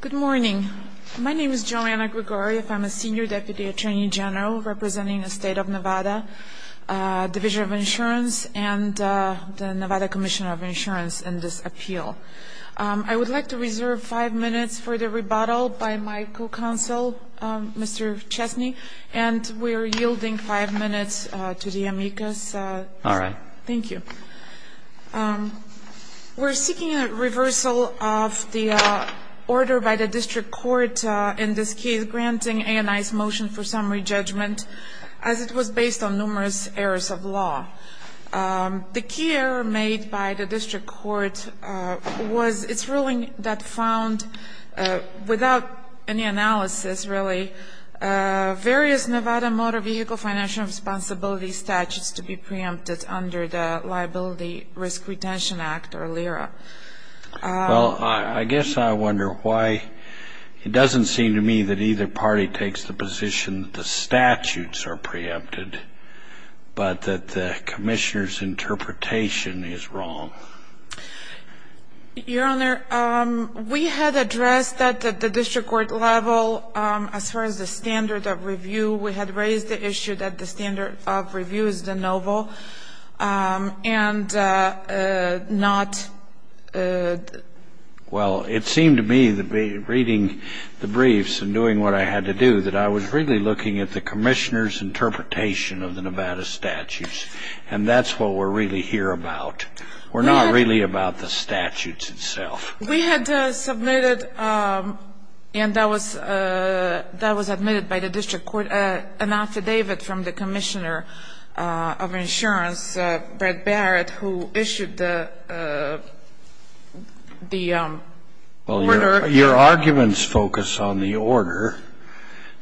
Good morning. My name is Joanna Grigorieff. I'm a Senior Deputy Attorney General representing the State of Nevada Division of Insurance and the Nevada Commission of Insurance in this appeal. I would like to reserve five minutes for the rebuttal by my co-counsel, Mr. Chesney, and we're yielding five minutes to the amicus. All right. Thank you. We're seeking a reversal of the order by the district court in this case granting A&I's motion for summary judgment as it was based on numerous errors of law. The key error made by the district court was its ruling that found, without any analysis really, various Nevada motor vehicle financial responsibility statutes to be preempted under the Liability Risk Retention Act or LIRA. Well, I guess I wonder why it doesn't seem to me that either party takes the position that the statutes are preempted, but that the Commissioner's interpretation is wrong. Your Honor, we had addressed that at the district court level as far as the standard of review. We had raised the issue that the standard of review is de novo and not Well, it seemed to me that reading the briefs and doing what I had to do that I was really looking at the Commissioner's interpretation of the Nevada statutes, and that's what we're really here about. We're not really about the statutes itself. We had submitted, and that was admitted by the district court, an affidavit from the Commissioner of Insurance, Brett Barrett, who issued the order. Well, your arguments focus on the order.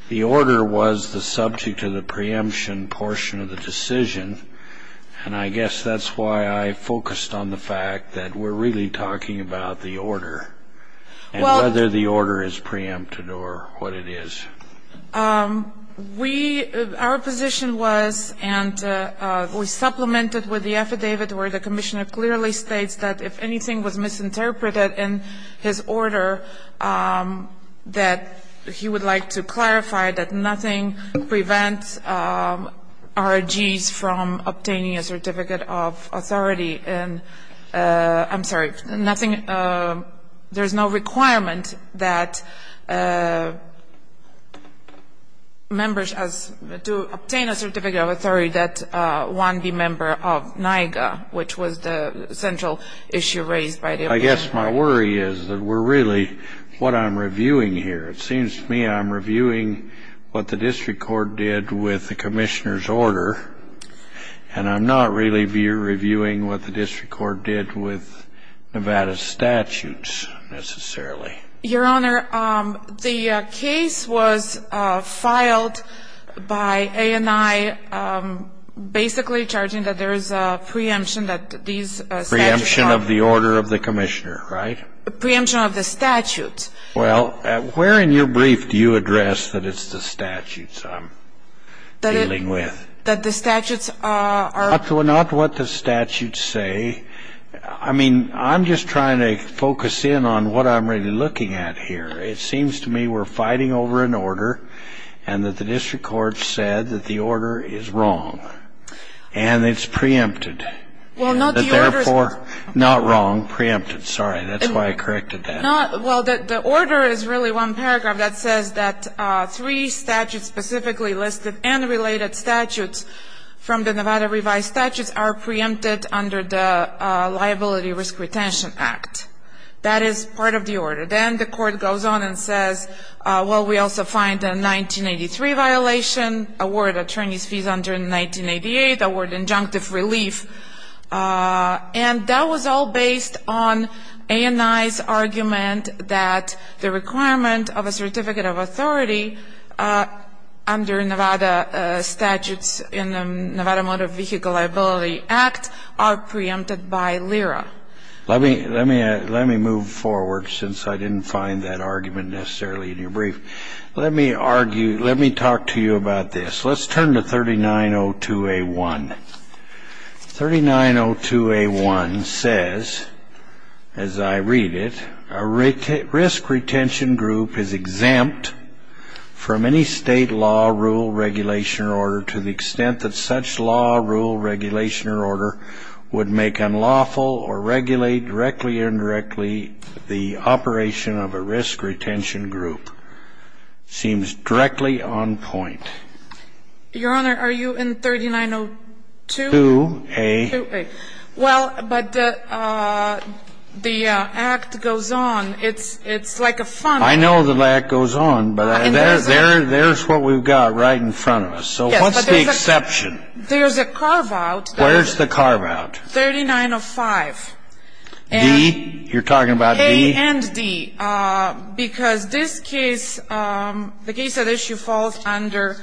The order was the subject of the preemption portion of the decision, and I guess that's why I focused on the fact that we're really talking about the order and whether the order is preempted or what it is. Our position was, and we supplemented with the affidavit where the Commissioner clearly states that if anything was misinterpreted in his order, that he would like to clarify that nothing prevents ROGs from obtaining a certificate of authority. I'm sorry, there's no requirement that members to obtain a certificate of authority that one be a member of NIAGA, which was the central issue raised by the opinion. My worry is that we're really what I'm reviewing here. It seems to me I'm reviewing what the district court did with the Commissioner's order, and I'm not really reviewing what the district court did with Nevada's statutes necessarily. Your Honor, the case was filed by A&I basically charging that there is a preemption that these statutes are. Preemption of the order of the Commissioner, right? Preemption of the statutes. Well, where in your brief do you address that it's the statutes I'm dealing with? That the statutes are. Not what the statutes say. I mean, I'm just trying to focus in on what I'm really looking at here. It seems to me we're fighting over an order, and that the district court said that the order is wrong, and it's preempted. Well, not the order. Therefore, not wrong, preempted. Sorry, that's why I corrected that. Well, the order is really one paragraph that says that three statutes specifically listed and related statutes from the Nevada revised statutes are preempted under the Liability Risk Retention Act. That is part of the order. Then the court goes on and says, well, we also find a 1983 violation, award attorney's fees under 1988, award injunctive relief. And that was all based on ANI's argument that the requirement of a certificate of authority under Nevada statutes in the Nevada Motor Vehicle Liability Act are preempted by LIRA. Let me move forward, since I didn't find that argument necessarily in your brief. Let me talk to you about this. Let's turn to 3902A1. 3902A1 says, as I read it, a risk retention group is exempt from any state law, rule, regulation, or order to the extent that such law, rule, regulation, or order would make unlawful or regulate directly or indirectly the operation of a risk retention group. Seems directly on point. Your Honor, are you in 3902A? Well, but the act goes on. It's like a funnel. I know the act goes on, but there's what we've got right in front of us. So what's the exception? There's a carve-out. Where's the carve-out? 3905. D? You're talking about D? And D, because this case, the case at issue falls under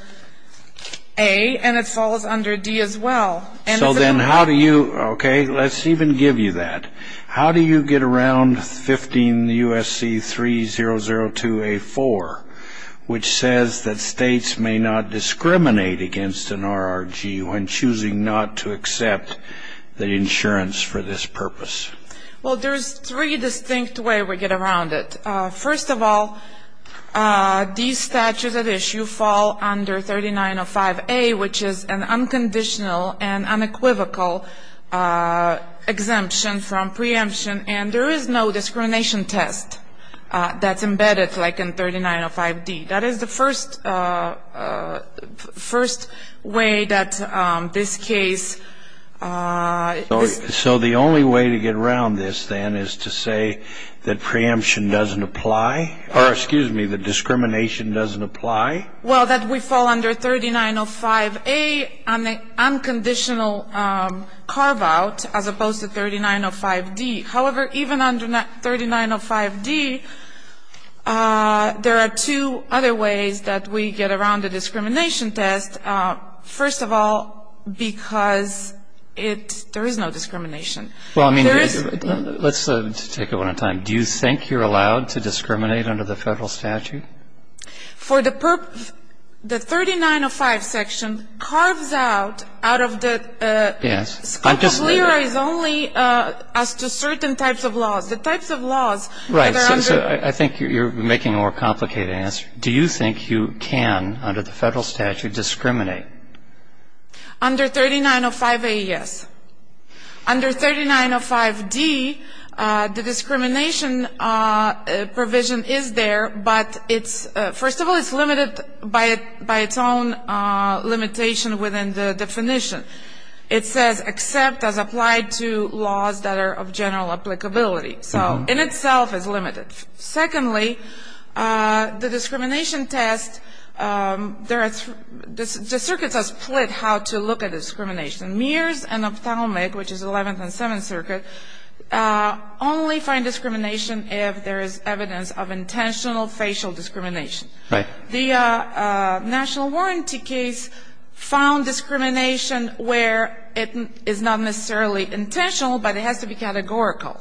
A, and it falls under D as well. So then how do you, okay, let's even give you that. How do you get around 15 U.S.C. 3002A4, which says that states may not discriminate against an RRG when choosing not to accept the insurance for this purpose? Well, there's three distinct ways we get around it. First of all, these statutes at issue fall under 3905A, which is an unconditional and unequivocal exemption from preemption. And there is no discrimination test that's embedded like in 3905D. That is the first way that this case is. So the only way to get around this then is to say that preemption doesn't apply, or excuse me, that discrimination doesn't apply? Well, that we fall under 3905A on the unconditional carve-out as opposed to 3905D. However, even under 3905D, there are two other ways that we get around the discrimination test. First of all, because it's, there is no discrimination. Well, I mean, let's take it one at a time. Do you think you're allowed to discriminate under the federal statute? For the purpose, the 3905 section carves out, out of the scope of LERA is only as to certain types of laws. The types of laws that are under. Right. So I think you're making a more complicated answer. Do you think you can, under the federal statute, discriminate? Under 3905A, yes. Under 3905D, the discrimination provision is there, but it's, first of all, it's limited by its own limitation within the definition. It says, except as applied to laws that are of general applicability. So in itself, it's limited. Secondly, the discrimination test, there are, the circuits are split how to look at discrimination. Mears and Opthalmic, which is 11th and 7th Circuit, only find discrimination if there is evidence of intentional facial discrimination. Right. The national warranty case found discrimination where it is not necessarily intentional, but it has to be categorical,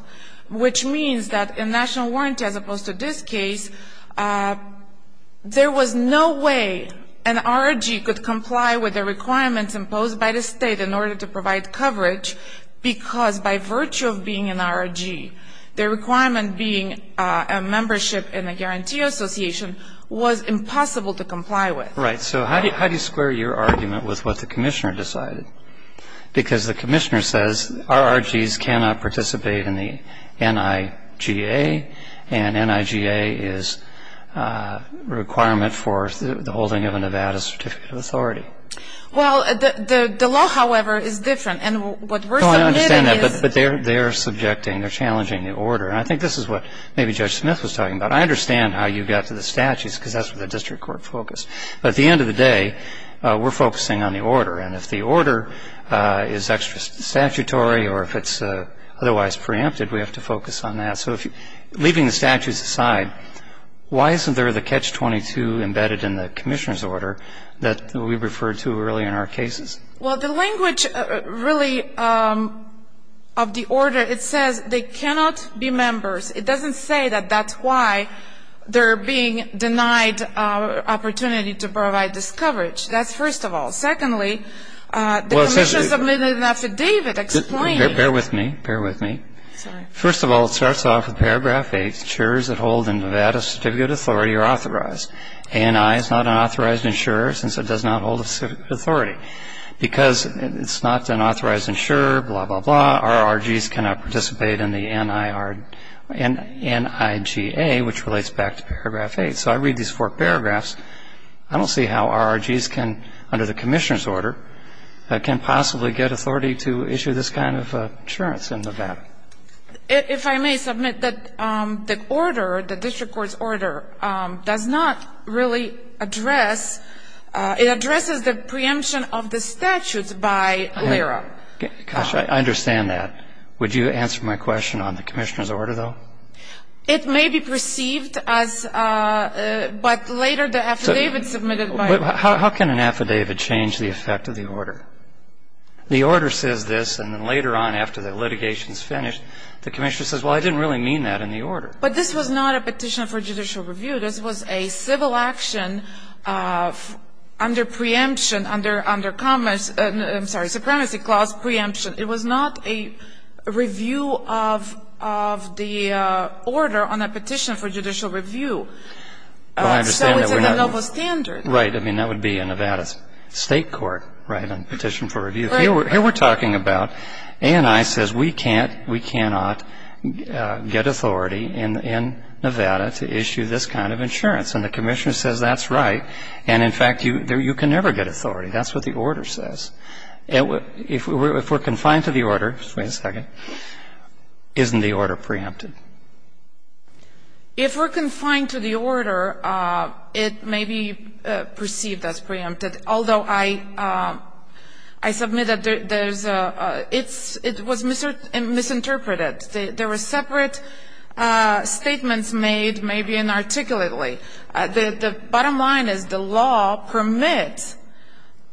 which means that in national warranty, as opposed to this case, there was no way an RRG could comply with the requirements imposed by the State in order to provide coverage, because by virtue of being an RRG, the requirement being a membership in a guarantee association was impossible to comply with. Right. So how do you square your argument with what the Commissioner decided? Because the Commissioner says RRGs cannot participate in the NIGA, and NIGA is a requirement for the holding of a Nevada Certificate of Authority. Well, the law, however, is different, and what we're submitting is... No, I understand that, but they're subjecting, they're challenging the order, and I think this is what maybe Judge Smith was talking about. I understand how you got to the statutes, because that's where the district court focused. But at the end of the day, we're focusing on the order, and if the order is extra statutory or if it's otherwise preempted, we have to focus on that. So leaving the statutes aside, why isn't there the catch-22 embedded in the Commissioner's order that we referred to earlier in our cases? Well, the language really of the order, it says they cannot be members. It doesn't say that that's why they're being denied opportunity to provide this coverage. That's first of all. Secondly, the Commissioner submitted that to David explaining... Bear with me, bear with me. First of all, it starts off with paragraph 8, insurers that hold a Nevada Certificate of Authority are authorized. ANI is not an authorized insurer since it does not hold a certificate of authority. Because it's not an authorized insurer, blah, blah, blah, RRGs cannot participate in the NIGA, which relates back to paragraph 8. So I read these four paragraphs. I don't see how RRGs can, under the Commissioner's order, can possibly get authority to issue this kind of insurance in Nevada. If I may submit that the order, the district court's order, does not really address, it addresses the preemption of the statutes by LIRA. Gosh, I understand that. Would you answer my question on the Commissioner's order, though? It may be perceived as, but later the affidavit submitted by... How can an affidavit change the effect of the order? The order says this, and then later on after the litigation is finished, the Commissioner says, well, I didn't really mean that in the order. But this was not a petition for judicial review. This was a civil action under preemption, under commerce, I'm sorry, supremacy clause preemption. It was not a review of the order on a petition for judicial review. So it's a novel standard. Right. I mean, that would be a Nevada state court, right, on a petition for review. Right. Here we're talking about ANI says we can't, we cannot get authority in Nevada to issue this kind of insurance. And the Commissioner says that's right. And, in fact, you can never get authority. That's what the order says. If we're confined to the order, wait a second, isn't the order preempted? If we're confined to the order, it may be perceived as preempted. Although I submit that there's a, it was misinterpreted. There were separate statements made, maybe inarticulately. The bottom line is the law permits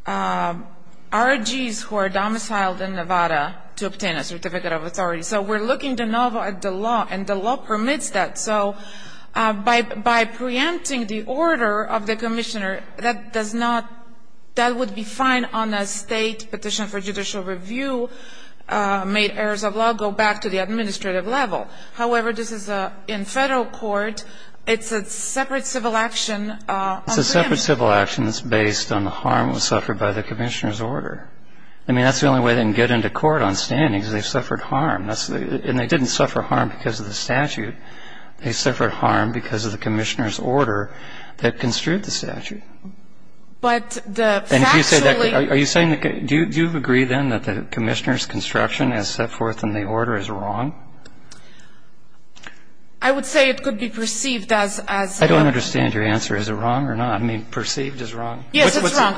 ROGs who are domiciled in Nevada to obtain a certificate of authority. So we're looking at the law, and the law permits that. So by preempting the order of the Commissioner, that does not, that would be fine on a state petition for judicial review, made errors of law go back to the administrative level. However, this is a, in federal court, it's a separate civil action. It's a separate civil action that's based on the harm suffered by the Commissioner's order. I mean, that's the only way they can get into court on standings. They've suffered harm. And they didn't suffer harm because of the statute. They suffered harm because of the Commissioner's order that construed the statute. But the factually. Are you saying, do you agree then that the Commissioner's construction as set forth in the order is wrong? I would say it could be perceived as. I don't understand your answer. Is it wrong or not? I mean, perceived as wrong? Yes, it's wrong.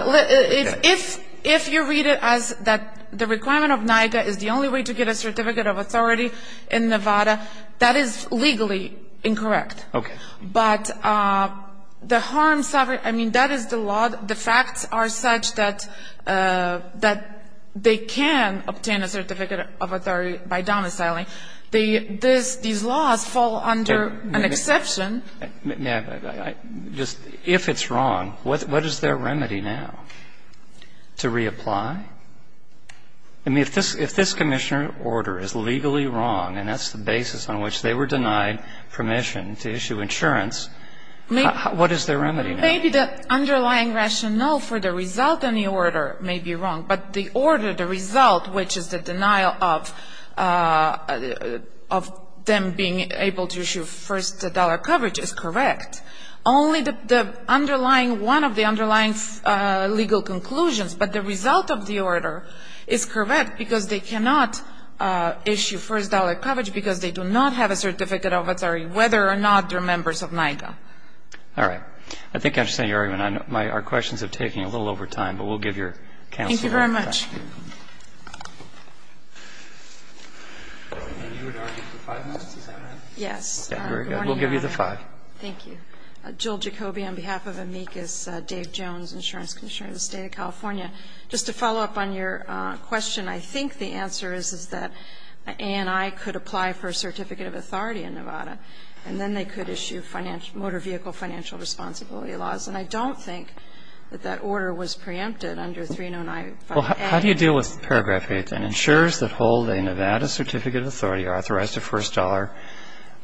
If you read it as that the requirement of NICA is the only way to get a certificate of authority in Nevada, that is legally incorrect. Okay. But the harm suffered, I mean, that is the law. The facts are such that they can obtain a certificate of authority by domiciling. These laws fall under an exception. If it's wrong, what is their remedy now? To reapply? I mean, if this Commissioner's order is legally wrong, and that's the basis on which they were denied permission to issue insurance, what is their remedy now? Maybe the underlying rationale for the result in the order may be wrong. But the order, the result, which is the denial of them being able to issue first dollar coverage is correct. Only the underlying, one of the underlying legal conclusions, but the result of the order is correct because they cannot issue first dollar coverage because they do not have a certificate of authority, whether or not they're members of NICA. All right. I think I understand your argument. Our questions are taking a little over time, but we'll give your counsel time. Thank you very much. And you would argue for five minutes, is that right? Yes. Very good. We'll give you the five. Thank you. Jill Jacoby on behalf of amicus Dave Jones, Insurance Commissioner of the State of California. Just to follow up on your question, I think the answer is that ANI could apply for a certificate of authority in Nevada, and then they could issue motor vehicle financial responsibility laws. And I don't think that that order was preempted under 309. Well, how do you deal with paragraph 8? An insurer that holds a Nevada certificate of authority authorized a first dollar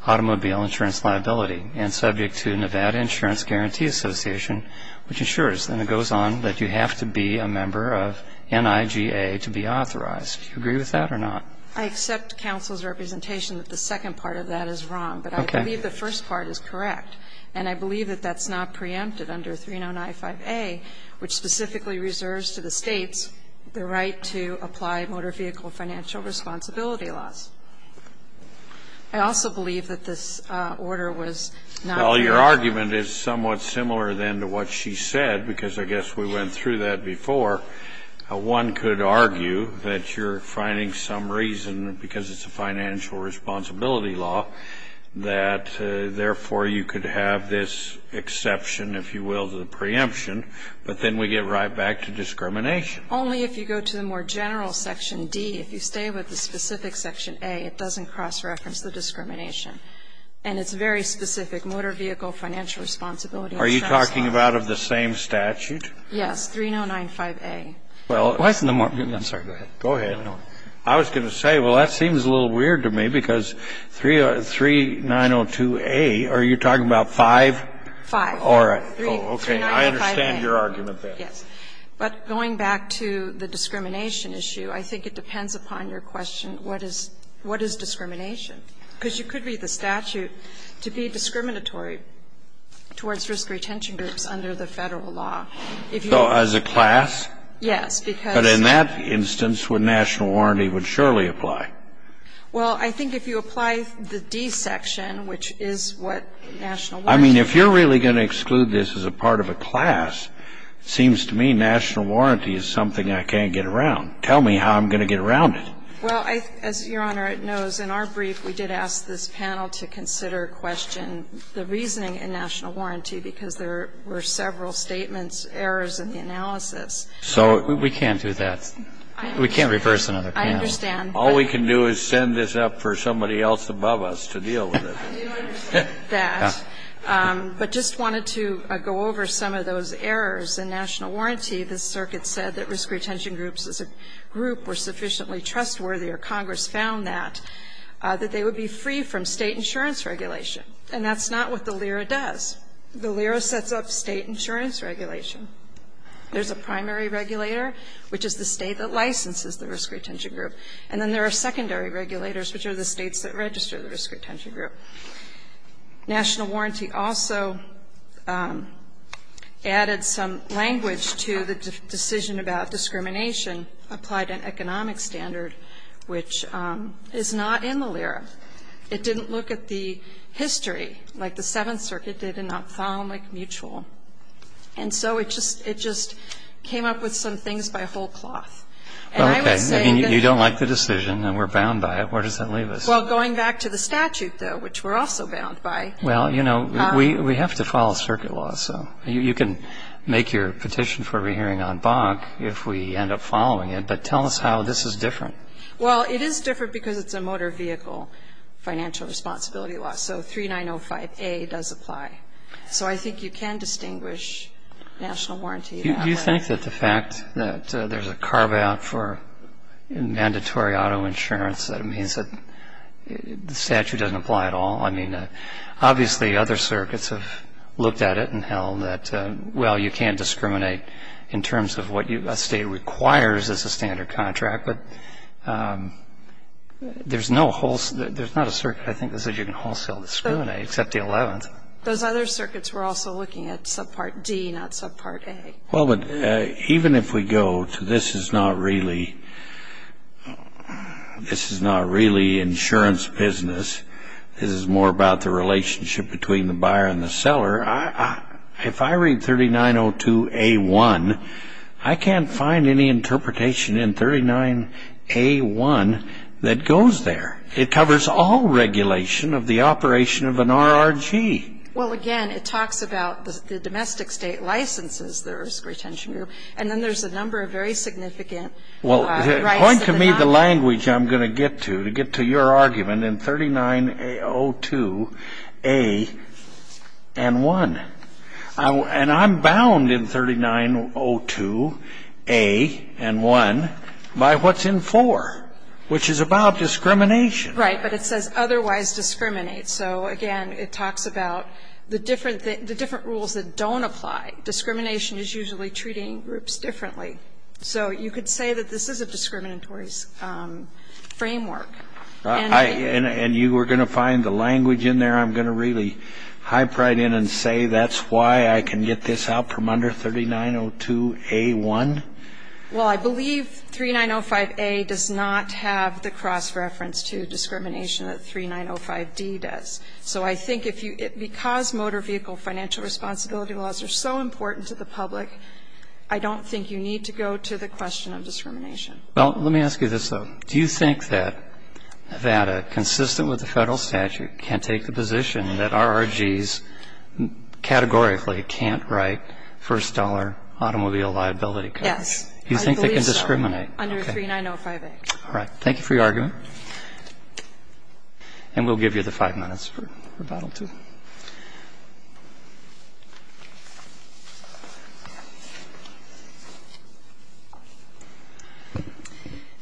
automobile insurance liability and subject to Nevada Insurance Guarantee Association, which insures, and it goes on, that you have to be a member of NIGA to be authorized. Do you agree with that or not? I accept counsel's representation that the second part of that is wrong. Okay. But I believe the first part is correct. And I believe that that's not preempted under 309.5a, which specifically reserves to the States the right to apply motor vehicle financial responsibility I also believe that this order was not preempted. Well, your argument is somewhat similar, then, to what she said, because I guess we went through that before. One could argue that you're finding some reason, because it's a financial responsibility law, that therefore you could have this exception, if you will, to the preemption. But then we get right back to discrimination. Only if you go to the more general Section D. If you stay with the specific Section A, it doesn't cross-reference the discrimination. And it's very specific, motor vehicle financial responsibility. Are you talking about of the same statute? Yes, 309.5a. Well, I was going to say, well, that seems a little weird to me, because 3902a, are you talking about 5? 5. All right. Okay. I understand your argument there. Yes. But going back to the discrimination issue, I think it depends upon your question, what is discrimination? Because you could read the statute to be discriminatory towards risk retention groups under the Federal law. So as a class? Yes. But in that instance, what national warranty would surely apply? Well, I think if you apply the D section, which is what national warranty is. I mean, if you're really going to exclude this as a part of a class, it seems to me national warranty is something I can't get around. Tell me how I'm going to get around it. Well, as Your Honor, it knows in our brief we did ask this panel to consider question the reasoning in national warranty, because there were several statements, errors in the analysis. So we can't do that. We can't reverse another panel. I understand. All we can do is send this up for somebody else above us to deal with it. I do understand that. But just wanted to go over some of those errors in national warranty. In the case of national warranty, the circuit said that risk retention groups as a group were sufficiently trustworthy, or Congress found that, that they would be free from State insurance regulation. And that's not what the LIRA does. The LIRA sets up State insurance regulation. There's a primary regulator, which is the State that licenses the risk retention group. And then there are secondary regulators, which are the States that register the risk retention group. National warranty also added some language to the decision about discrimination applied to an economic standard, which is not in the LIRA. It didn't look at the history, like the Seventh Circuit did, and not found like mutual. And so it just came up with some things by a whole cloth. And I would say that you don't like the decision, and we're bound by it. Where does that leave us? Well, going back to the statute, though, which we're also bound by. Well, you know, we have to follow circuit law. So you can make your petition for re-hearing on BOG if we end up following it. But tell us how this is different. Well, it is different because it's a motor vehicle financial responsibility law. So 3905A does apply. So I think you can distinguish national warranty. Do you think that the fact that there's a carve-out for mandatory auto insurance, that it means that the statute doesn't apply at all? I mean, obviously other circuits have looked at it and held that, well, you can't discriminate in terms of what a state requires as a standard contract. But there's not a circuit, I think, that says you can wholesale discriminate, except the Eleventh. Those other circuits were also looking at subpart D, not subpart A. Well, but even if we go to this is not really insurance business, this is more about the relationship between the buyer and the seller, if I read 3902A1, I can't find any interpretation in 39A1 that goes there. It covers all regulation of the operation of an RRG. Well, again, it talks about the domestic state licenses, the risk retention group, and then there's a number of very significant rights. Well, point to me the language I'm going to get to, to get to your argument in 3902A1. And I'm bound in 3902A1 by what's in 4, which is about discrimination. Right, but it says otherwise discriminate. So, again, it talks about the different rules that don't apply. Discrimination is usually treating groups differently. So you could say that this is a discriminatory framework. And you were going to find the language in there? I'm going to really hype right in and say that's why I can get this out from under 3902A1? Well, I believe 3905A does not have the cross-reference to discrimination that 3905D does. So I think because motor vehicle financial responsibility laws are so important to the public, I don't think you need to go to the question of discrimination. Well, let me ask you this, though. Do you think that a consistent with the federal statute can take the position that RRGs categorically can't write first-dollar automobile liability codes? Yes, I believe so. You think they can discriminate? Under 3905A. All right. Thank you for your argument. And we'll give you the five minutes for rebuttal, too.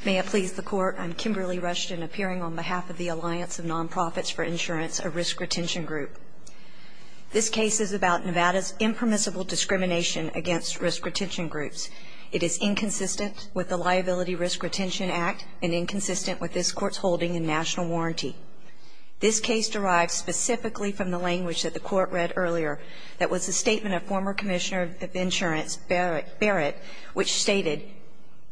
May it please the Court. I'm Kimberly Rushton, appearing on behalf of the Alliance of Nonprofits for Insurance, a risk retention group. This case is about Nevada's impermissible discrimination against risk retention groups. It is inconsistent with the Liability Risk Retention Act and inconsistent with this Court's holding in national warranty. This case derives specifically from the language that the Court read earlier that was a statement of former Commissioner of Insurance Barrett, which stated,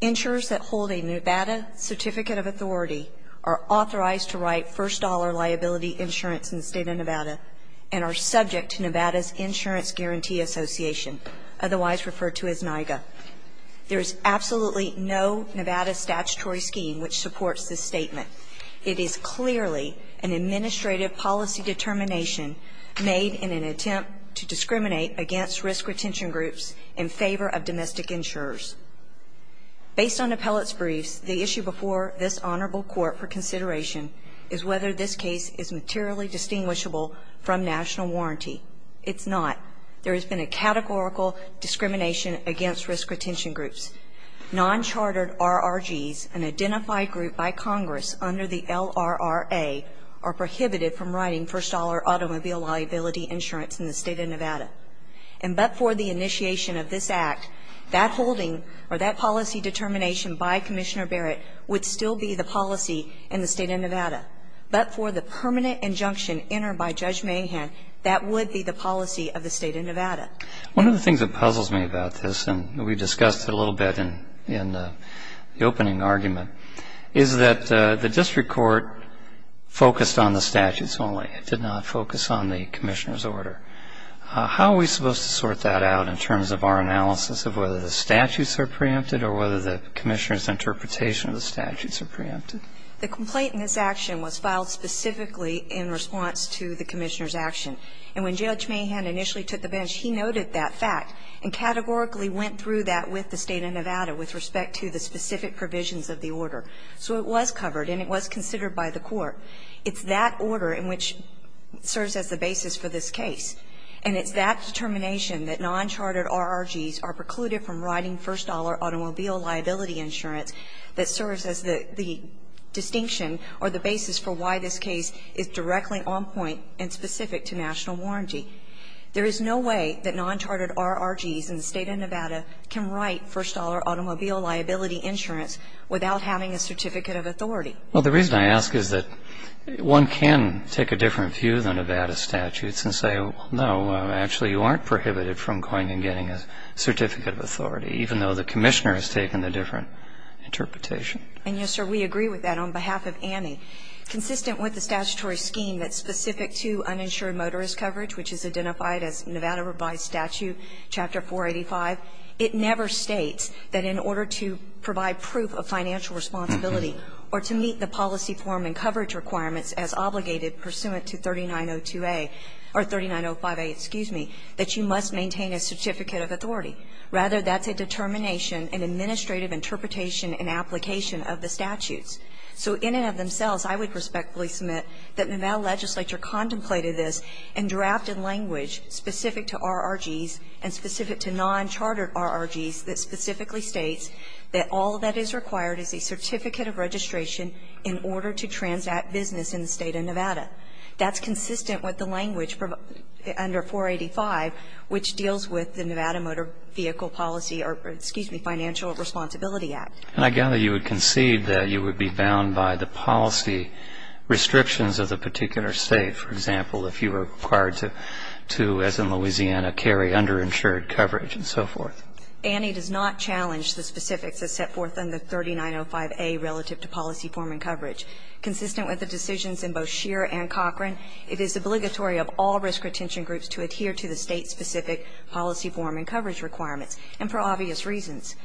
"...insurers that hold a Nevada Certificate of Authority are authorized to write first-dollar liability insurance in the State of Nevada and are subject to Nevada's Insurance Guarantee Association, otherwise referred to as NIGA." There is absolutely no Nevada statutory scheme which supports this statement. It is clearly an administrative policy determination made in an attempt to discriminate against risk retention groups in favor of domestic insurers. Based on appellate's briefs, the issue before this Honorable Court for consideration is whether this case is materially distinguishable from national warranty. It's not. There has been a categorical discrimination against risk retention groups. Non-chartered RRGs, an identified group by Congress under the LRRA, are prohibited from writing first-dollar automobile liability insurance in the State of Nevada. And but for the initiation of this Act, that holding or that policy determination by Commissioner Barrett would still be the policy in the State of Nevada. But for the permanent injunction entered by Judge Mahan, that would be the policy of the State of Nevada. One of the things that puzzles me about this, and we discussed it a little bit in the opening argument, is that the district court focused on the statutes only. It did not focus on the Commissioner's order. How are we supposed to sort that out in terms of our analysis of whether the statutes are preempted or whether the Commissioner's interpretation of the statutes are preempted? The complaint in this action was filed specifically in response to the Commissioner's action. And when Judge Mahan initially took the bench, he noted that fact and categorically went through that with the State of Nevada with respect to the specific provisions of the order. So it was covered and it was considered by the court. It's that order in which it serves as the basis for this case. And it's that determination that non-chartered RRGs are precluded from writing first-dollar automobile liability insurance that serves as the distinction or the basis for why this case is directly on point and specific to national warranty. There is no way that non-chartered RRGs in the State of Nevada can write first-dollar automobile liability insurance without having a certificate of authority. Well, the reason I ask is that one can take a different view than Nevada statutes and say, well, no, actually you aren't prohibited from going and getting a certificate of authority, even though the Commissioner has taken a different interpretation. And, yes, sir, we agree with that on behalf of Annie. Consistent with the statutory scheme that's specific to uninsured motorist coverage, which is identified as Nevada Revised Statute Chapter 485, it never states that in order to provide proof of financial responsibility or to meet the policy form and coverage requirements as obligated pursuant to 3902a or 3905a, excuse me, that you must maintain a certificate of authority. Rather, that's a determination, an administrative interpretation and application of the statutes. So in and of themselves, I would respectfully submit that Nevada legislature contemplated this and drafted language specific to RRGs and specific to non-chartered RRGs that specifically states that all that is required is a certificate of registration in order to transact business in the State of Nevada. That's consistent with the language under 485, which deals with the Nevada Motor Vehicle Policy or, excuse me, Financial Responsibility Act. And I gather you would concede that you would be bound by the policy restrictions of the particular State, for example, if you were required to, as in Louisiana, carry underinsured coverage and so forth. Annie does not challenge the specifics as set forth in the 3905a relative to policy form and coverage. Consistent with the decisions in both Scheer and Cochran, it is obligatory of all risk retention groups to adhere to the State-specific policy form and coverage requirements, and for obvious reasons.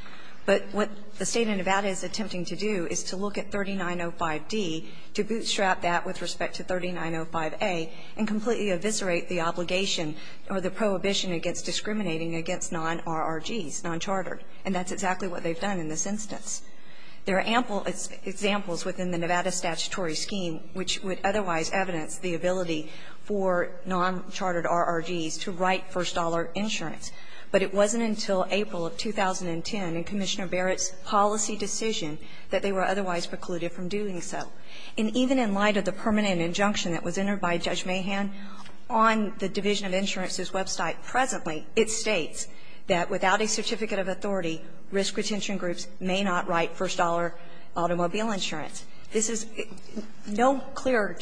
But what the State of Nevada is attempting to do is to look at 3905d to bootstrap that with respect to 3905a and completely eviscerate the obligation or the prohibition against discriminating against non-RRGs, non-chartered. And that's exactly what they've done in this instance. There are ample examples within the Nevada statutory scheme which would otherwise evidence the ability for non-chartered RRGs to write first-dollar insurance. But it wasn't until April of 2010 in Commissioner Barrett's policy decision that they were otherwise precluded from doing so. And even in light of the permanent injunction that was entered by Judge Mahan on the Division of Insurance's website presently, it states that without a certificate of authority, risk retention groups may not write first-dollar automobile insurance. This is no clearer,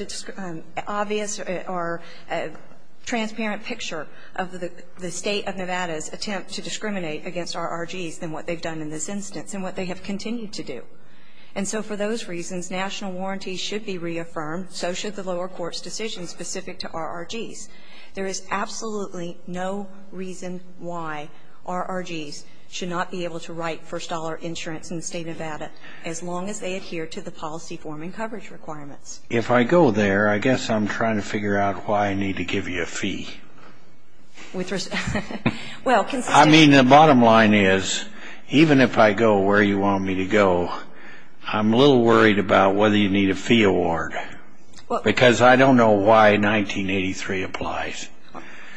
obvious, or transparent picture of the State of Nevada's attempt to discriminate against RRGs than what they've done in this instance and what they have continued to do. And so for those reasons, national warranties should be reaffirmed, so should the lower court's decision specific to RRGs. There is absolutely no reason why RRGs should not be able to write first-dollar insurance in the State of Nevada as long as they adhere to the policy forming coverage requirements. If I go there, I guess I'm trying to figure out why I need to give you a fee. With respect to the State of Nevada? I'm a little worried about whether you need a fee award because I don't know why 1983 applies.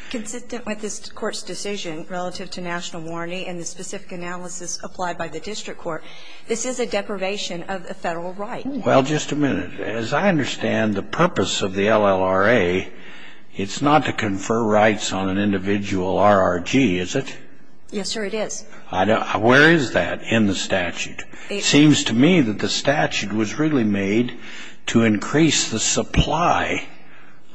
Consistent with this court's decision relative to national warranty and the specific analysis applied by the district court, this is a deprivation of a federal right. Well, just a minute. As I understand the purpose of the LLRA, it's not to confer rights on an individual RRG, is it? Yes, sir, it is. Where is that in the statute? It seems to me that the statute was really made to increase the supply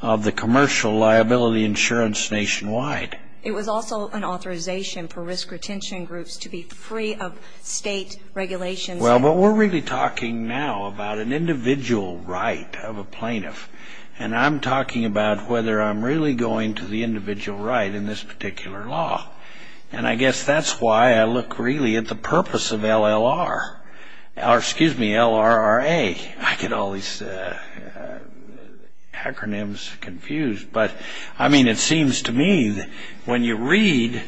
of the commercial liability insurance nationwide. It was also an authorization for risk retention groups to be free of state regulations. Well, but we're really talking now about an individual right of a plaintiff, and I'm talking about whether I'm really going to the individual right in this particular law. And I guess that's why I look really at the purpose of LLRA. I get all these acronyms confused. But, I mean, it seems to me that when you read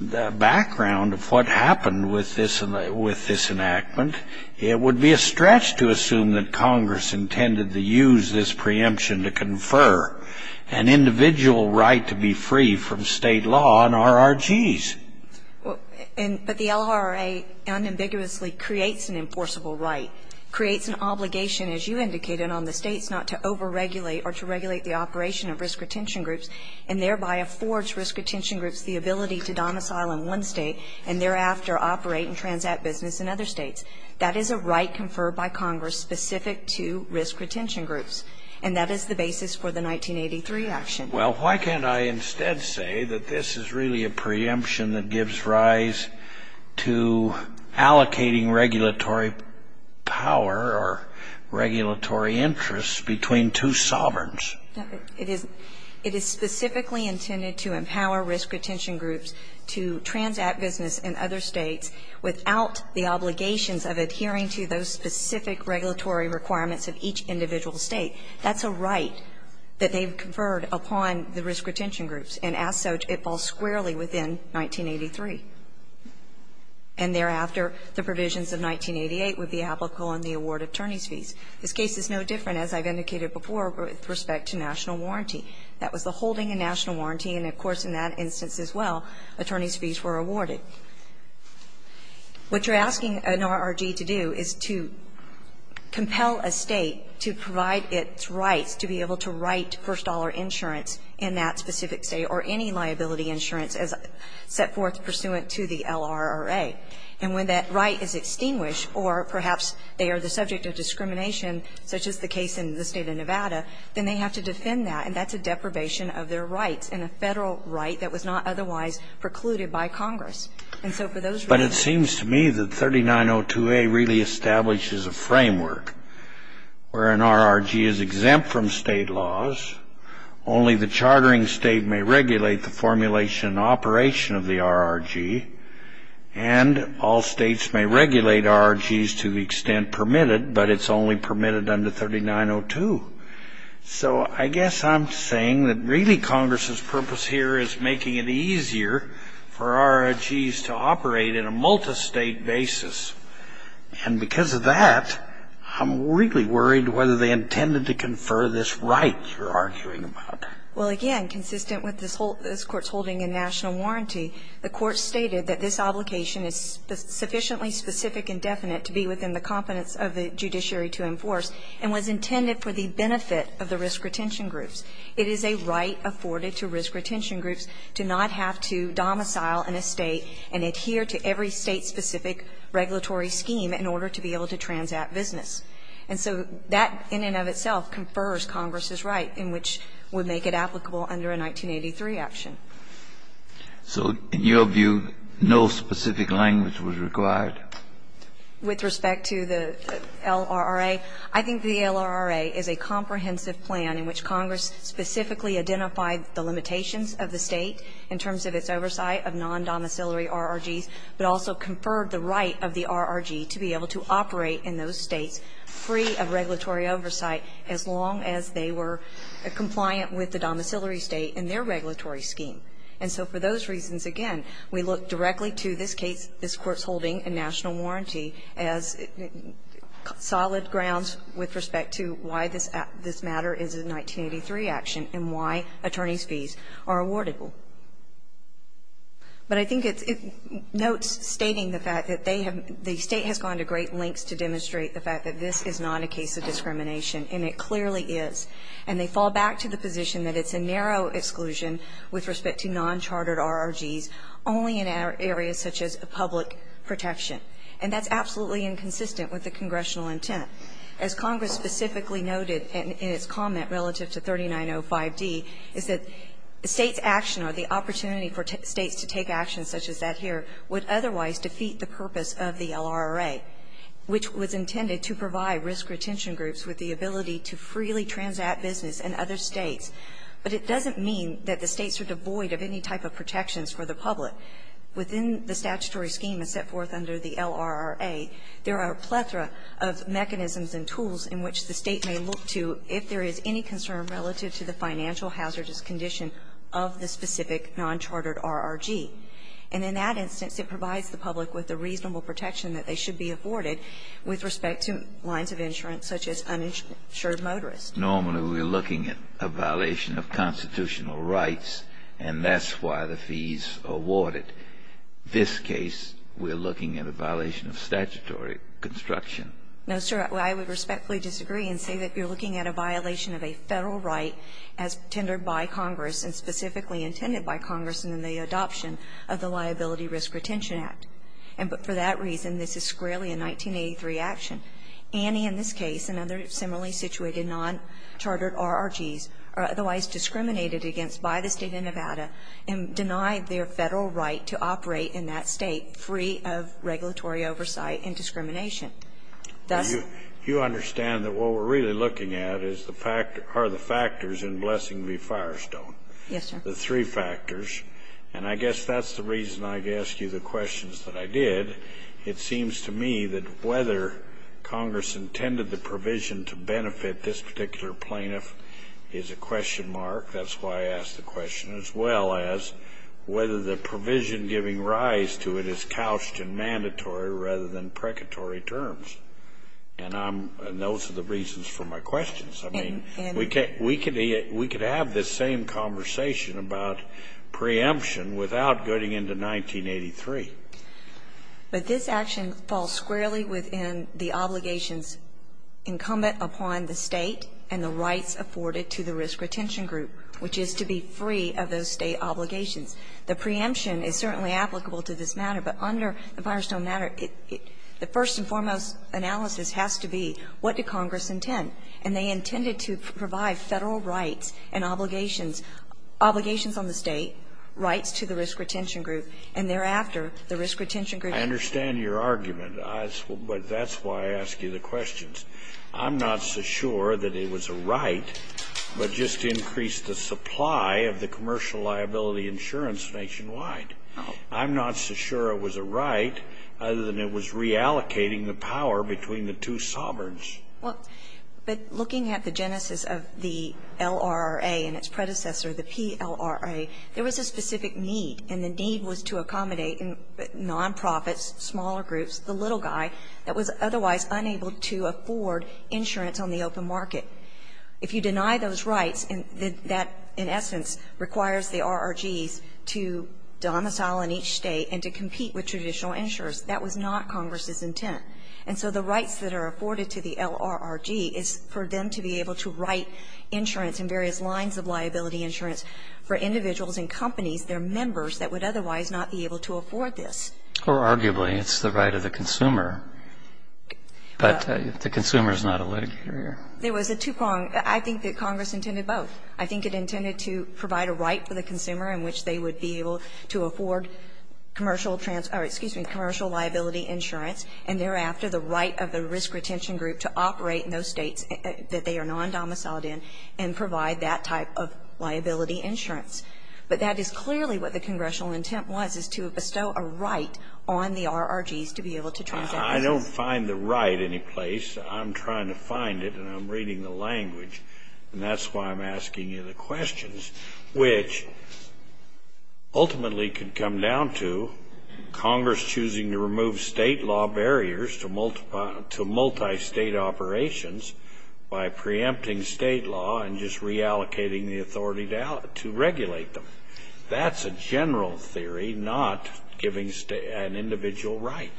the background of what happened with this enactment, it would be a stretch to assume that Congress intended to use this preemption to confer an individual right to be free from state law on RRGs. But the LLRA unambiguously creates an enforceable right, creates an obligation, as you indicated, on the states not to overregulate or to regulate the operation of risk retention groups, and thereby affords risk retention groups the ability to domicile in one state and thereafter operate and transact business in other states. That is a right conferred by Congress specific to risk retention groups, and that is the basis for the 1983 action. Well, why can't I instead say that this is really a preemption that gives rise to allocating regulatory power or regulatory interests between two sovereigns? It is specifically intended to empower risk retention groups to transact business in other states without the obligations of adhering to those specific regulatory requirements of each individual state. That's a right that they've conferred upon the risk retention groups. And as such, it falls squarely within 1983. And thereafter, the provisions of 1988 would be applicable on the award of attorneys' fees. This case is no different, as I've indicated before, with respect to national warranty. That was the holding in national warranty, and, of course, in that instance as well, attorneys' fees were awarded. What you're asking an RRG to do is to compel a State to provide its rights to be able to write first-dollar insurance in that specific State or any liability insurance as set forth pursuant to the LRRA. And when that right is extinguished, or perhaps they are the subject of discrimination, such as the case in the State of Nevada, then they have to defend that, and that's And a Federal right that was not otherwise precluded by Congress. And so for those reasons ---- But it seems to me that 3902A really establishes a framework where an RRG is exempt from State laws, only the chartering State may regulate the formulation and operation of the RRG, and all States may regulate RRGs to the extent permitted, but it's only permitted under 3902. So I guess I'm saying that really Congress's purpose here is making it easier for RRGs to operate in a multistate basis. And because of that, I'm really worried whether they intended to confer this right you're arguing about. Well, again, consistent with this Court's holding in national warranty, the Court stated that this obligation is sufficiently specific and definite to be within the benefit of the risk retention groups. It is a right afforded to risk retention groups to not have to domicile an estate and adhere to every State-specific regulatory scheme in order to be able to transact business. And so that in and of itself confers Congress's right in which would make it applicable under a 1983 action. So in your view, no specific language was required? With respect to the LRRA, I think the LRRA is a comprehensive plan in which Congress specifically identified the limitations of the State in terms of its oversight of non-domiciliary RRGs, but also conferred the right of the RRG to be able to operate in those States free of regulatory oversight as long as they were compliant with the domiciliary State in their regulatory scheme. And so for those reasons, again, we look directly to this case, this Court's holding in national warranty, as solid grounds with respect to why this matter is a 1983 action and why attorneys' fees are awardable. But I think it notes stating the fact that they have the State has gone to great lengths to demonstrate the fact that this is not a case of discrimination, and it clearly is. And they fall back to the position that it's a narrow exclusion with respect to non-chartered RRGs only in areas such as public protection. And that's absolutely inconsistent with the congressional intent. As Congress specifically noted in its comment relative to 3905d is that the State's action or the opportunity for States to take action such as that here would otherwise defeat the purpose of the LRRA, which was intended to provide risk retention groups with the ability to freely transact business in other States. But it doesn't mean that the States are devoid of any type of protections for the public. Within the statutory scheme as set forth under the LRRA, there are a plethora of mechanisms and tools in which the State may look to if there is any concern relative to the financial hazardous condition of the specific non-chartered RRG. And in that instance, it provides the public with the reasonable protection that they should be afforded with respect to lines of insurance such as uninsured motorists. Kennedy, normally we're looking at a violation of constitutional rights, and that's why the fees are awarded. This case, we're looking at a violation of statutory construction. No, sir. I would respectfully disagree and say that you're looking at a violation of a Federal right as tendered by Congress and specifically intended by Congress in the adoption of the Liability Risk Retention Act. And for that reason, this is squarely a 1983 action. And in this case, another similarly situated non-chartered RRGs are otherwise discriminated against by the State of Nevada and denied their Federal right to operate in that State free of regulatory oversight and discrimination. Thus you understand that what we're really looking at is the fact or the factors in Blessing v. Firestone. Yes, sir. The three factors. And I guess that's the reason I asked you the questions that I did. It seems to me that whether Congress intended the provision to benefit this particular plaintiff is a question mark. That's why I asked the question, as well as whether the provision giving rise to it is couched in mandatory rather than precatory terms. And those are the reasons for my questions. I mean, we could have this same conversation about preemption without getting into 1983. But this action falls squarely within the obligations incumbent upon the State and the rights afforded to the risk retention group, which is to be free of those State obligations. The preemption is certainly applicable to this matter, but under the Firestone matter, the first and foremost analysis has to be what did Congress intend. And they intended to provide Federal rights and obligations, obligations on the State, rights to the risk retention group, and thereafter the risk retention group. I understand your argument, but that's why I ask you the questions. I'm not so sure that it was a right, but just to increase the supply of the commercial liability insurance nationwide. I'm not so sure it was a right other than it was reallocating the power between the two sovereigns. Well, but looking at the genesis of the LRA and its predecessor, the PLRA, there was a specific need, and the need was to accommodate nonprofits, smaller groups, the little guy that was otherwise unable to afford insurance on the open market. If you deny those rights, that in essence requires the RRGs to domicile in each State and to compete with traditional insurers. That was not Congress's intent. And so the rights that are afforded to the LRRG is for them to be able to write insurance and various lines of liability insurance for individuals and companies, their members, that would otherwise not be able to afford this. Or arguably, it's the right of the consumer, but the consumer is not a litigator. There was a two-prong. I think that Congress intended both. I think it intended to provide a right for the consumer in which they would be able to afford commercial trans or excuse me, commercial liability insurance, and thereafter the right of the risk retention group to operate in those States that they are non-domiciled in and provide that type of liability insurance. But that is clearly what the Congressional intent was, is to bestow a right on the RRGs to be able to transact. I don't find the right anyplace. I'm trying to find it, and I'm reading the language, and that's why I'm asking you the come down to Congress choosing to remove State law barriers to multi-State operations by preempting State law and just reallocating the authority to regulate them. That's a general theory, not giving an individual right.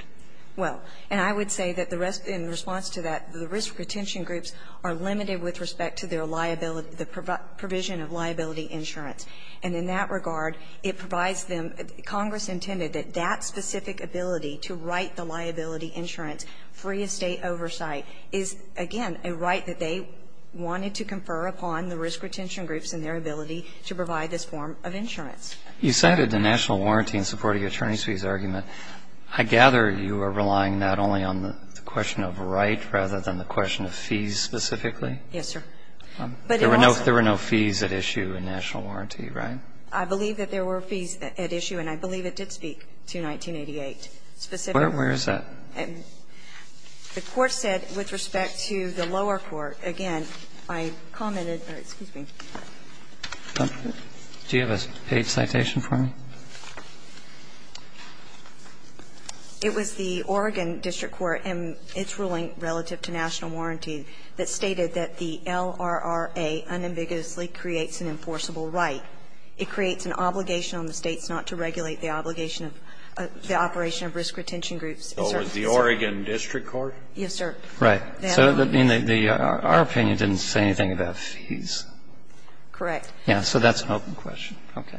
Well, and I would say that the rest, in response to that, the risk retention groups are limited with respect to their liability, the provision of liability insurance. And in that regard, it provides them, Congress intended that that specific ability to write the liability insurance free of State oversight is, again, a right that they wanted to confer upon the risk retention groups in their ability to provide this form of insurance. You cited the national warranty in support of your attorney's fees argument. I gather you are relying not only on the question of right rather than the question of fees specifically. Yes, sir. There were no fees at issue in national warranty, right? I believe that there were fees at issue, and I believe it did speak to 1988 specifically. Where is that? The court said with respect to the lower court, again, I commented or, excuse me. Do you have a page citation for me? It was the Oregon district court in its ruling relative to national warranty that stated that the LRRA unambiguously creates an enforceable right. It creates an obligation on the States not to regulate the obligation of the operation of risk retention groups. So it was the Oregon district court? Yes, sir. Right. So our opinion didn't say anything about fees. Correct. Yes. So that's an open question. Okay.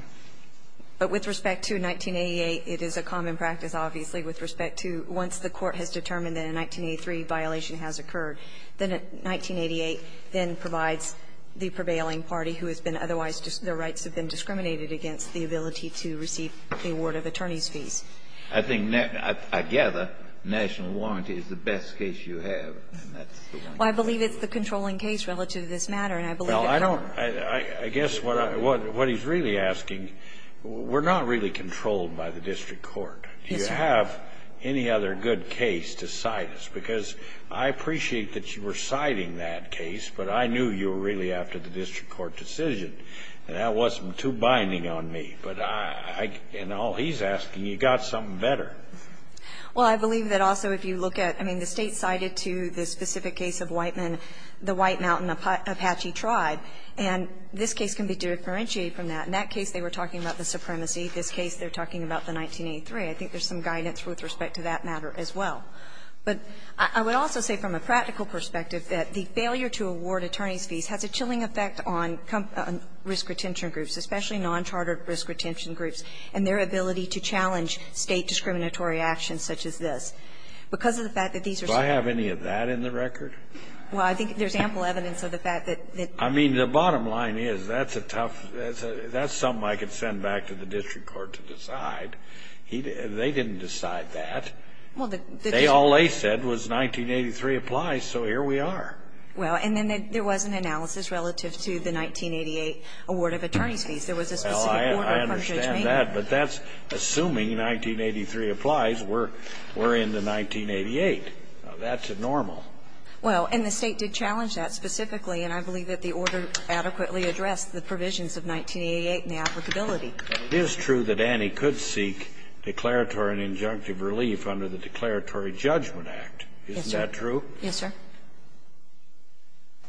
But with respect to 1988, it is a common practice, obviously, with respect to once the court has determined that a 1983 violation has occurred, that 1988 then provides the prevailing party who has been otherwise the rights have been discriminated against the ability to receive the award of attorney's fees. I think, I gather, national warranty is the best case you have, and that's the one you're using. Well, I believe it's the controlling case relative to this matter, and I believe it covered it. Well, I don't – I guess what he's really asking, we're not really controlled by the district court. Yes, sir. Do you have any other good case to cite us? Because I appreciate that you were citing that case, but I knew you were really after the district court decision, and that wasn't too binding on me. But I – and all he's asking, you got something better. Well, I believe that also if you look at – I mean, the State cited to the specific case of Whiteman the White Mountain Apache tribe, and this case can be differentiated from that. In that case, they were talking about the supremacy. In this case, they're talking about the 1983. I think there's some guidance with respect to that matter as well. But I would also say from a practical perspective that the failure to award attorneys' fees has a chilling effect on risk retention groups, especially non-chartered risk retention groups, and their ability to challenge State discriminatory actions such as this. Because of the fact that these are some of the cases that were cited in this case. Do I have any of that in the record? Well, I think there's ample evidence of the fact that the – I mean, the bottom line is that's a tough – that's something I could send back to the district court to decide. They didn't decide that. They all they said was 1983 applies, so here we are. Well, and then there was an analysis relative to the 1988 award of attorneys' fees. There was a specific order from Judge Maynard. Well, I understand that, but that's assuming 1983 applies. We're in the 1988. That's normal. Well, and the State did challenge that specifically, and I believe that the order adequately addressed the provisions of 1988 and the applicability. It is true that Annie could seek declaratory and injunctive relief under the Declaratory Judgment Act. Yes, sir. Isn't that true? Yes, sir.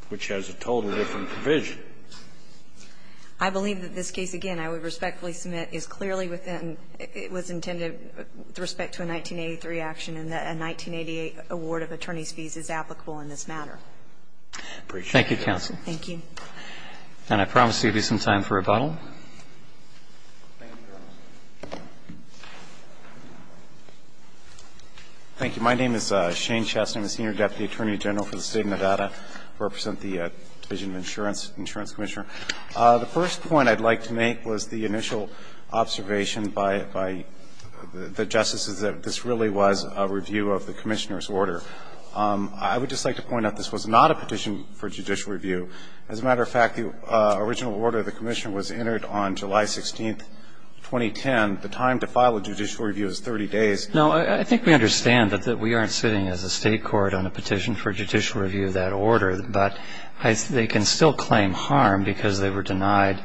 Which has a totally different provision. I believe that this case, again, I would respectfully submit is clearly within – it was intended with respect to a 1983 action and that a 1988 award of attorneys' fees is applicable in this matter. Appreciate it. Thank you, counsel. Thank you. And I promise there will be some time for rebuttal. Thank you, Your Honor. Thank you. My name is Shane Chess. I'm a senior deputy attorney general for the State of Nevada. I represent the Division of Insurance, Insurance Commissioner. The first point I'd like to make was the initial observation by the justices that this really was a review of the Commissioner's order. I would just like to point out this was not a petition for judicial review. As a matter of fact, the original order of the Commissioner was entered on July 16, 2010. The time to file a judicial review is 30 days. No, I think we understand that we aren't sitting as a state court on a petition for judicial review of that order, but they can still claim harm because they were denied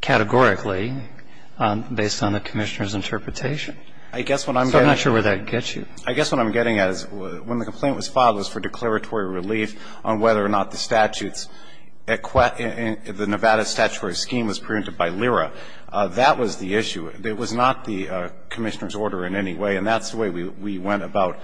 categorically based on the Commissioner's interpretation. I guess what I'm getting – So I'm not sure where that gets you. I guess what I'm getting at is when the complaint was filed, it was for declaratory relief on whether or not the statutes – the Nevada statutory scheme was preempted by LERA. That was the issue. It was not the Commissioner's order in any way, and that's the way we went about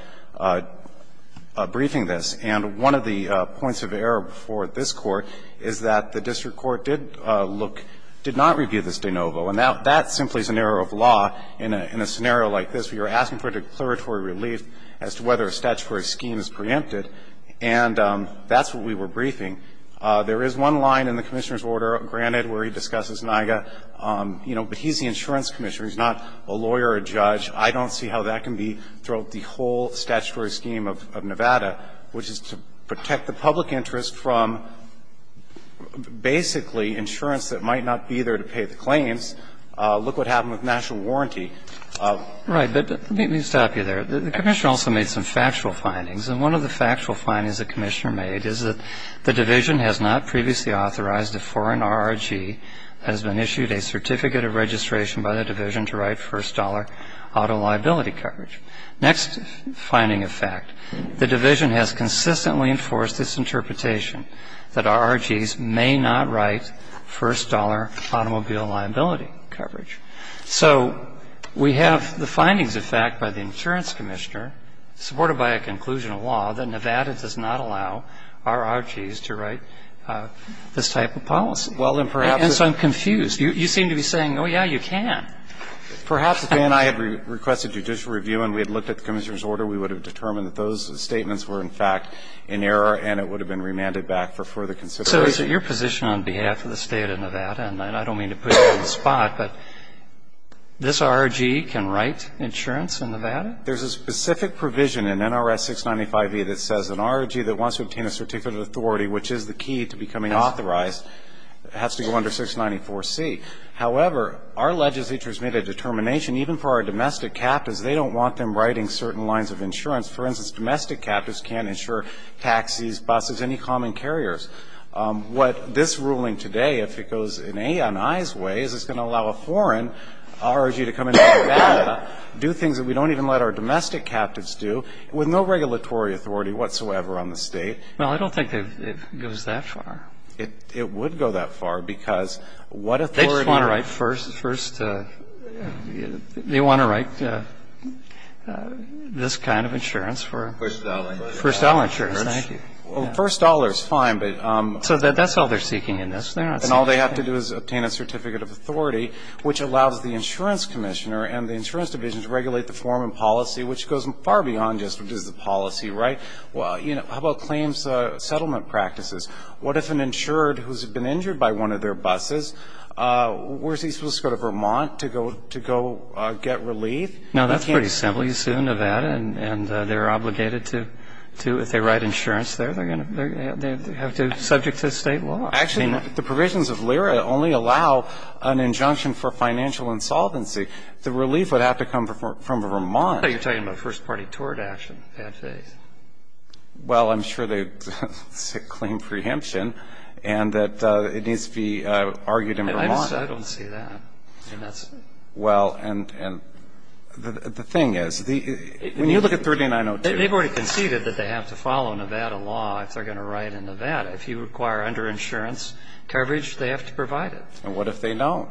briefing this. And one of the points of error before this Court is that the district court did look – did not review this de novo. And that simply is an error of law in a scenario like this. We were asking for declaratory relief as to whether a statutory scheme is preempted, and that's what we were briefing. There is one line in the Commissioner's order, granted, where he discusses NIAGA. You know, but he's the insurance commissioner. He's not a lawyer or a judge. I don't see how that can be throughout the whole statutory scheme of Nevada, which is to protect the public interest from basically insurance that might not be there to pay the claims. Look what happened with national warranty. Right. But let me stop you there. The Commissioner also made some factual findings, and one of the factual findings the Commissioner made is that the division has not previously authorized a foreign RRG that has been issued a certificate of registration by the division to write first dollar auto liability coverage. Next finding of fact, the division has consistently enforced this interpretation that RRGs may not write first dollar automobile liability coverage. So we have the findings of fact by the insurance commissioner, supported by a conclusion of law, that Nevada does not allow RRGs to write this type of policy. And so I'm confused. You seem to be saying, oh, yeah, you can. Perhaps if they and I had requested judicial review and we had looked at the Commissioner's order, we would have determined that those statements were, in fact, in error and it would have been remanded back for further consideration. So it's your position on behalf of the State of Nevada, and I don't mean to put you on the spot, but this RRG can write insurance in Nevada? There's a specific provision in NRS 695E that says an RRG that wants to obtain a certificate of authority, which is the key to becoming authorized, has to go under 694C. However, our legislature has made a determination, even for our domestic captains, they don't want them writing certain lines of insurance. For instance, domestic captains can't insure taxis, buses, any common carriers. What this ruling today, if it goes in Aonai's way, is it's going to allow a foreign RRG to come into Nevada, do things that we don't even let our domestic captains do, with no regulatory authority whatsoever on the State. Well, I don't think it goes that far. It would go that far, because what authority to write first the first they want to write this kind of insurance for first dollar insurance. Thank you. First dollar is fine, but... So that's all they're seeking in this. And all they have to do is obtain a certificate of authority, which allows the insurance commissioner and the insurance division to regulate the form and policy, which goes far beyond just what is the policy, right? Well, you know, how about claims settlement practices? What if an insured who's been injured by one of their buses, was he supposed to go to Vermont to go get relief? No, that's pretty simple. And they're obligated to, if they write insurance there, they're going to have to, subject to state law. Actually, the provisions of LERA only allow an injunction for financial insolvency. The relief would have to come from Vermont. You're talking about first party tort action, in that case. Well, I'm sure they claim preemption, and that it needs to be argued in Vermont. I don't see that. Well, and the thing is, when you look at 3902... They've already conceded that they have to follow Nevada law if they're going to write in Nevada. If you require under insurance coverage, they have to provide it. And what if they don't?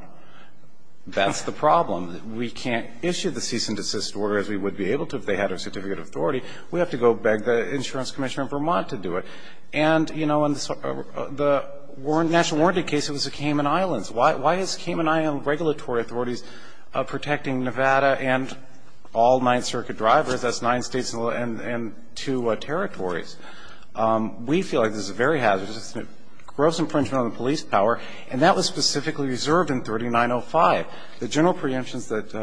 That's the problem. We can't issue the cease and desist order as we would be able to if they had a certificate of authority. We have to go beg the insurance commissioner in Vermont to do it. And, you know, in the national warranty case, it was the Cayman Islands. Why is Cayman Islands regulatory authorities protecting Nevada and all Ninth Circuit drivers? That's nine states and two territories. We feel like this is very hazardous. It's a gross infringement on the police power, and that was specifically reserved in 3905. The general preemptions that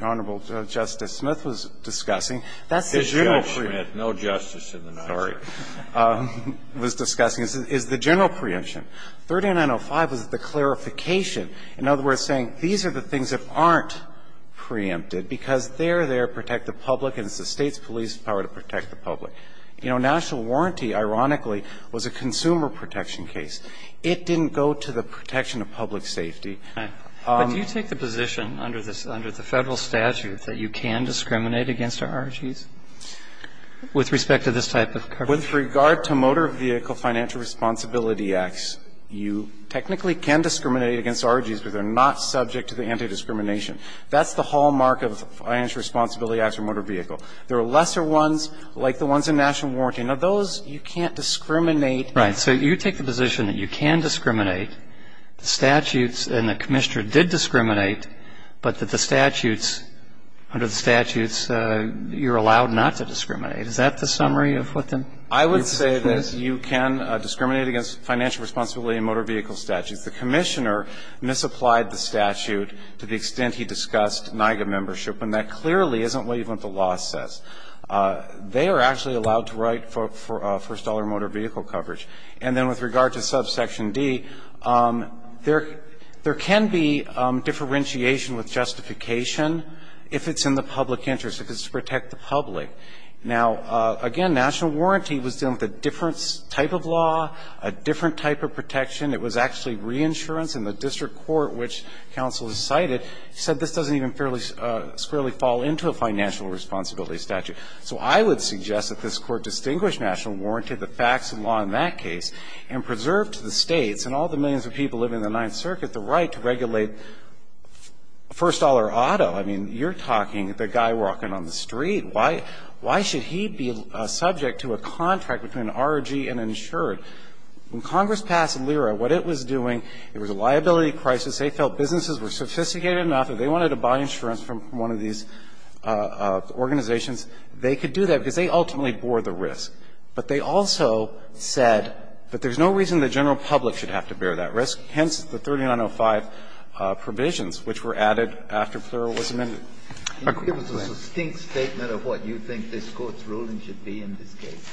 Honorable Justice Smith was discussing, that's the general preemption. No justice in the Ninth Circuit. Sorry. Was discussing is the general preemption. 3905 was the clarification, in other words, saying these are the things that aren't preempted because they're there to protect the public and it's the State's police power to protect the public. You know, national warranty, ironically, was a consumer protection case. It didn't go to the protection of public safety. But do you take the position under the Federal statute that you can discriminate against our RGs with respect to this type of coverage? With regard to motor vehicle financial responsibility acts, you technically can discriminate against RGs, but they're not subject to the anti-discrimination. That's the hallmark of financial responsibility acts for motor vehicle. There are lesser ones, like the ones in national warranty. Now, those you can't discriminate. Right. So you take the position that you can discriminate, the statutes and the commissioner did discriminate, but that the statutes, under the statutes, you're allowed not to discriminate. Is that the summary of what the rule is? I would say that you can discriminate against financial responsibility in motor vehicle statutes. The commissioner misapplied the statute to the extent he discussed NIGA membership, and that clearly isn't what even the law says. They are actually allowed to write for first-dollar motor vehicle coverage. And then with regard to subsection D, there can be differentiation with justification Now, again, national warranty was dealing with a different type of law, a different type of protection. It was actually reinsurance in the district court which counsel decided. He said this doesn't even fairly squarely fall into a financial responsibility statute. So I would suggest that this Court distinguish national warranty, the facts and law in that case, and preserve to the States and all the millions of people living in the Ninth Circuit the right to regulate first-dollar auto. I mean, you're talking the guy walking on the street. Why should he be subject to a contract between an ROG and an insured? When Congress passed LIRA, what it was doing, it was a liability crisis. They felt businesses were sophisticated enough. If they wanted to buy insurance from one of these organizations, they could do that because they ultimately bore the risk. But they also said that there's no reason the general public should have to bear that risk. Hence, the 3905 provisions which were added after FLRA was amended. It was a succinct statement of what you think this Court's ruling should be in this case.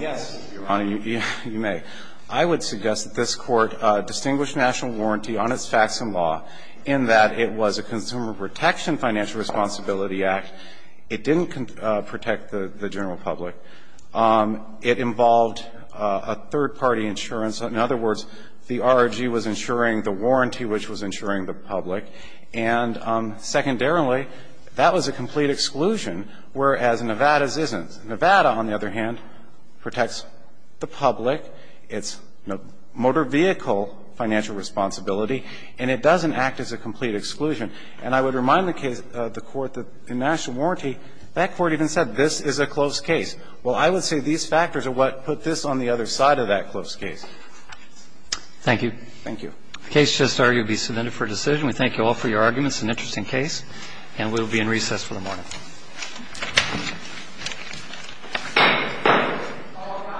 Yes, Your Honor. You may. I would suggest that this Court distinguish national warranty on its facts and law in that it was a consumer protection financial responsibility act. It didn't protect the general public. It involved a third-party insurance. In other words, the ROG was insuring the warranty which was insuring the public. And secondarily, that was a complete exclusion, whereas Nevada's isn't. Nevada, on the other hand, protects the public. It's a motor vehicle financial responsibility. And it doesn't act as a complete exclusion. And I would remind the case of the Court that in national warranty, that Court even said this is a closed case. Well, I would say these factors are what put this on the other side of that closed case. Thank you. Thank you. The case just argued to be submitted for decision. We thank you all for your arguments. It's an interesting case. And we will be in recess for the morning. All rise.